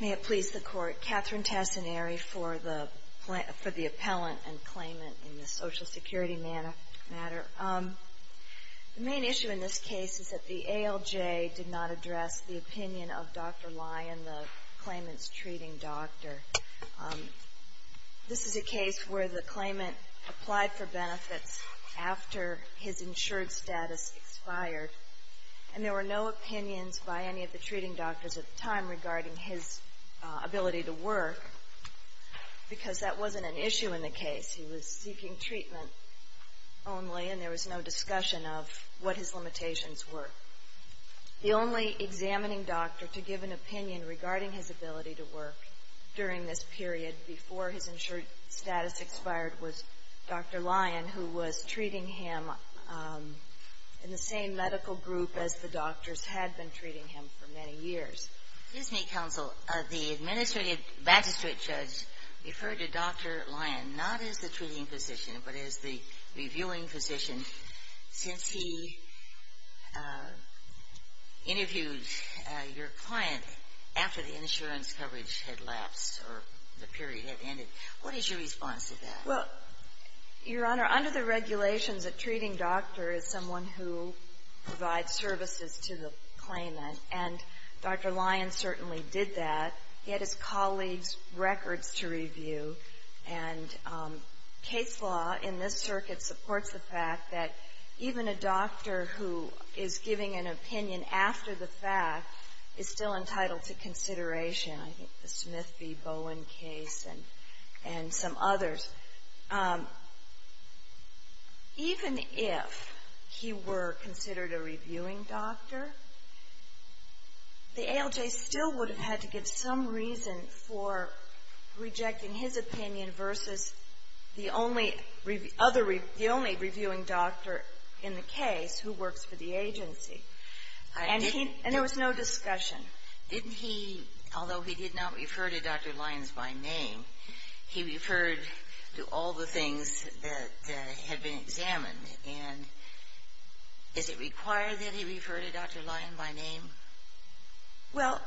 May it please the Court, Katherine Tassinari for the appellant and claimant in this Social Security matter. The main issue in this case is that the ALJ did not address the opinion of Dr. Lyon, the claimant's treating doctor. This is a case where the claimant applied for benefits after his insured status expired, and there were no opinions by any of the treating doctors at the time regarding his ability to work, because that wasn't an issue in the case. He was seeking treatment only, and there was no discussion of what his limitations were. The only examining doctor to give an opinion regarding his ability to work during this period, before his insured status expired, was Dr. Lyon, who was treating him in the same medical group as the doctors had been treating him for many years. Justice Sotomayor, the administrative magistrate judge referred to Dr. Lyon not as the treating physician, but as the reviewing physician, since he interviewed your client after the period had ended. What is your response to that? Well, Your Honor, under the regulations, a treating doctor is someone who provides services to the claimant, and Dr. Lyon certainly did that. He had his colleagues' records to review. And case law in this circuit supports the fact that even a doctor who is giving an opinion after the fact is still entitled to consideration. I think the Smith v. Owen case and some others, even if he were considered a reviewing doctor, the ALJ still would have had to give some reason for rejecting his opinion versus the only reviewing doctor in the case who works for the agency. And there was no discussion. Didn't he, although he did not refer to Dr. Lyon by name, he referred to all the things that had been examined. And is it required that he refer to Dr. Lyon by name? Well,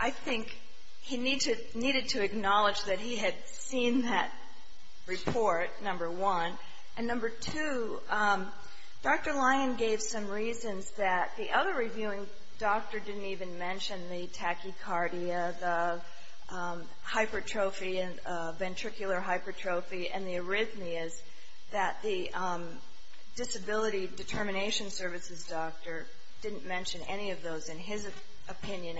I think he needed to acknowledge that he had seen that report, number one. And number two, Dr. Lyon gave some reasons that the other reviewing doctor didn't even mention, the tachycardia, the hypertrophy, ventricular hypertrophy, and the arrhythmias that the disability determination services doctor didn't mention any of those in his opinion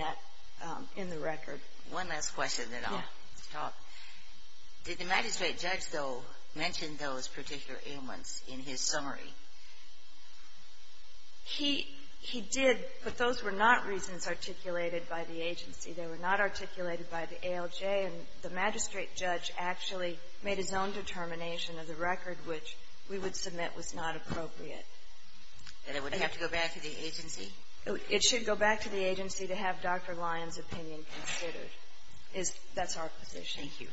in the record. One last question, then I'll stop. Did the magistrate judge, though, mention those particular ailments in his summary? He did, but those were not reasons articulated by the agency. They were not articulated by the ALJ, and the magistrate judge actually made his own determination of the record which we would submit was not appropriate. And it would have to go back to the agency? It should go back to the agency to have Dr. Lyon's opinion considered. That's our position. Thank you.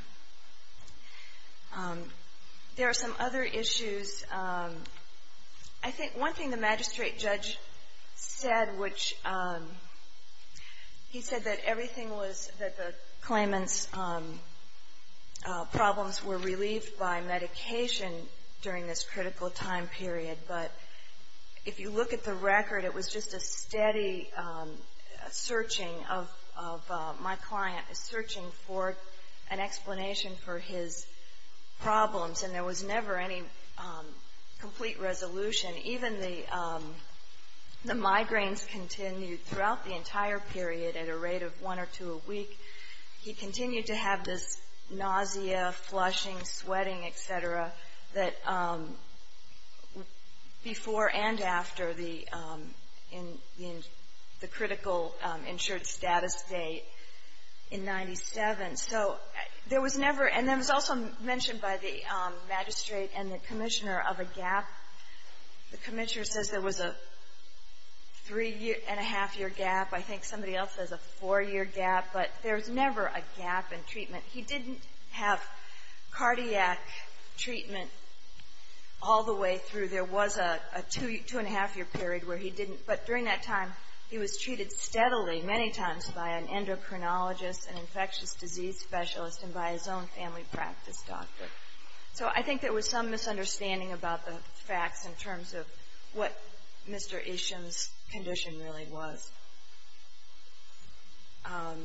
There are some other issues. I think one thing the magistrate judge said, which he said that everything was, that the claimant's problems were relieved by medication during this critical time period, but if you look at the record, it was just a steady searching of my client, searching for an explanation for his problems, and there was never any complete resolution. Even the migraines continued throughout the entire period at a rate of one or two a week. He continued to have this nausea, flushing, sweating, et cetera, that before and after the critical insured status date in 97. So there was never, and it was also mentioned by the magistrate and the commissioner of a gap. The commissioner says there was a three-and-a-half-year gap. I think somebody else says a four-year gap, but there's never a gap in treatment. He didn't have cardiac treatment all the way through. There was a two-and-a-half-year period where he didn't, but during that time, he was treated steadily many times by an endocrinologist, an infectious disease specialist, and by his own family practice doctor. So I think there was some misunderstanding about the facts in terms of what Mr. Isham's condition really was. The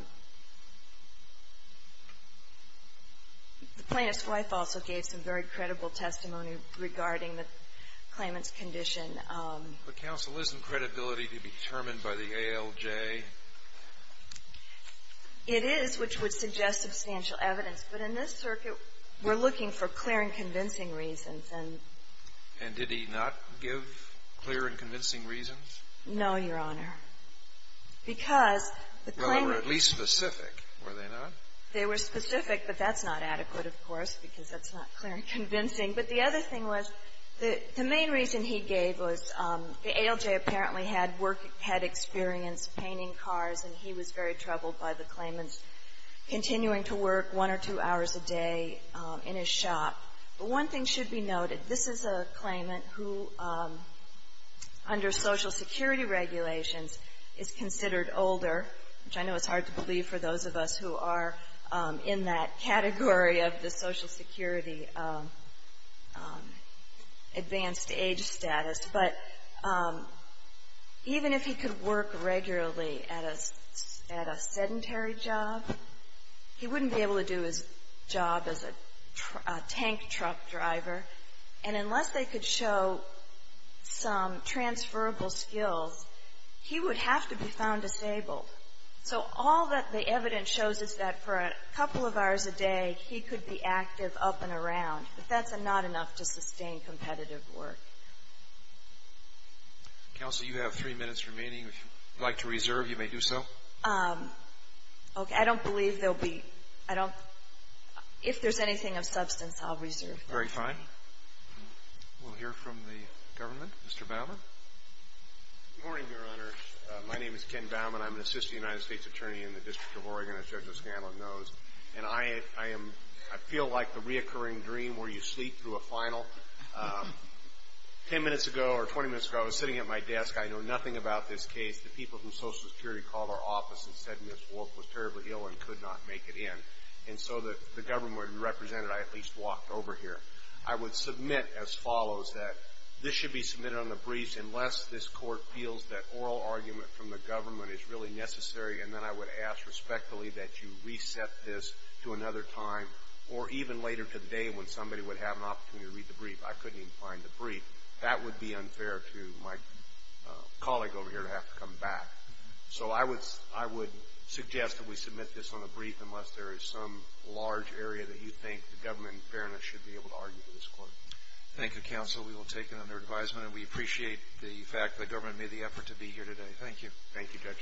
plaintiff's wife also gave some very credible testimony regarding the claimant's condition. But counsel, isn't credibility to be determined by the ALJ? It is, which would suggest substantial evidence, but in this circuit, we're looking for clear and convincing reasons. And did he not give clear and convincing reasons? No, Your Honor. Because the claimant was at least specific, were they not? They were specific, but that's not adequate, of course, because that's not clear and convincing. But the other thing was, the main reason he gave was the ALJ apparently had work experience painting cars, and he was very troubled by the claimant's continuing to work one or two hours a day in his shop. But one thing should be noted. This is a claimant who, under Social Security regulations, is considered older, which I know is hard to believe for those of us who are in that category of the Social Security advanced age status. But even if he could work regularly at a sedentary job, he wouldn't be able to do his job as a tank truck driver, and unless they could show some transferable skills, he would have to be found disabled. So all that the evidence shows is that for a couple of hours a day, he could be active up and around, but that's not enough to sustain competitive work. Counsel, you have three minutes remaining. If you'd like to reserve, you may do so. Okay. I don't believe there'll be — I don't — if there's anything of substance, I'll reserve. Very fine. We'll hear from the government. Mr. Baumann? Good morning, Your Honor. My name is Ken Baumann. I'm an assistant United States attorney in the District of Oregon, as Judge O'Scanlan knows. And I am — I feel like the reoccurring dream where you sleep through a final. Ten minutes ago, or 20 minutes ago, I was sitting at my desk. I know nothing about this case. The people from Social Security called our office and said Ms. Wolfe was terribly ill and could not make it in. And so that the government would be represented, I at least walked over here. I would submit as follows, that this should be submitted on the briefs unless this Court feels that oral argument from the government is really necessary. And then I would ask respectfully that you reset this to another time or even later today when somebody would have an opportunity to read the brief. I couldn't even find the brief. That would be unfair to my colleague over here to have to come back. So I would — I would suggest that we submit this on the brief unless there is some large area that you think the government in fairness should be able to argue for this Court. Thank you, Counsel. We will take it under advisement. And we appreciate the fact that the government made the effort to be here today. Thank you. Thank you, Judge.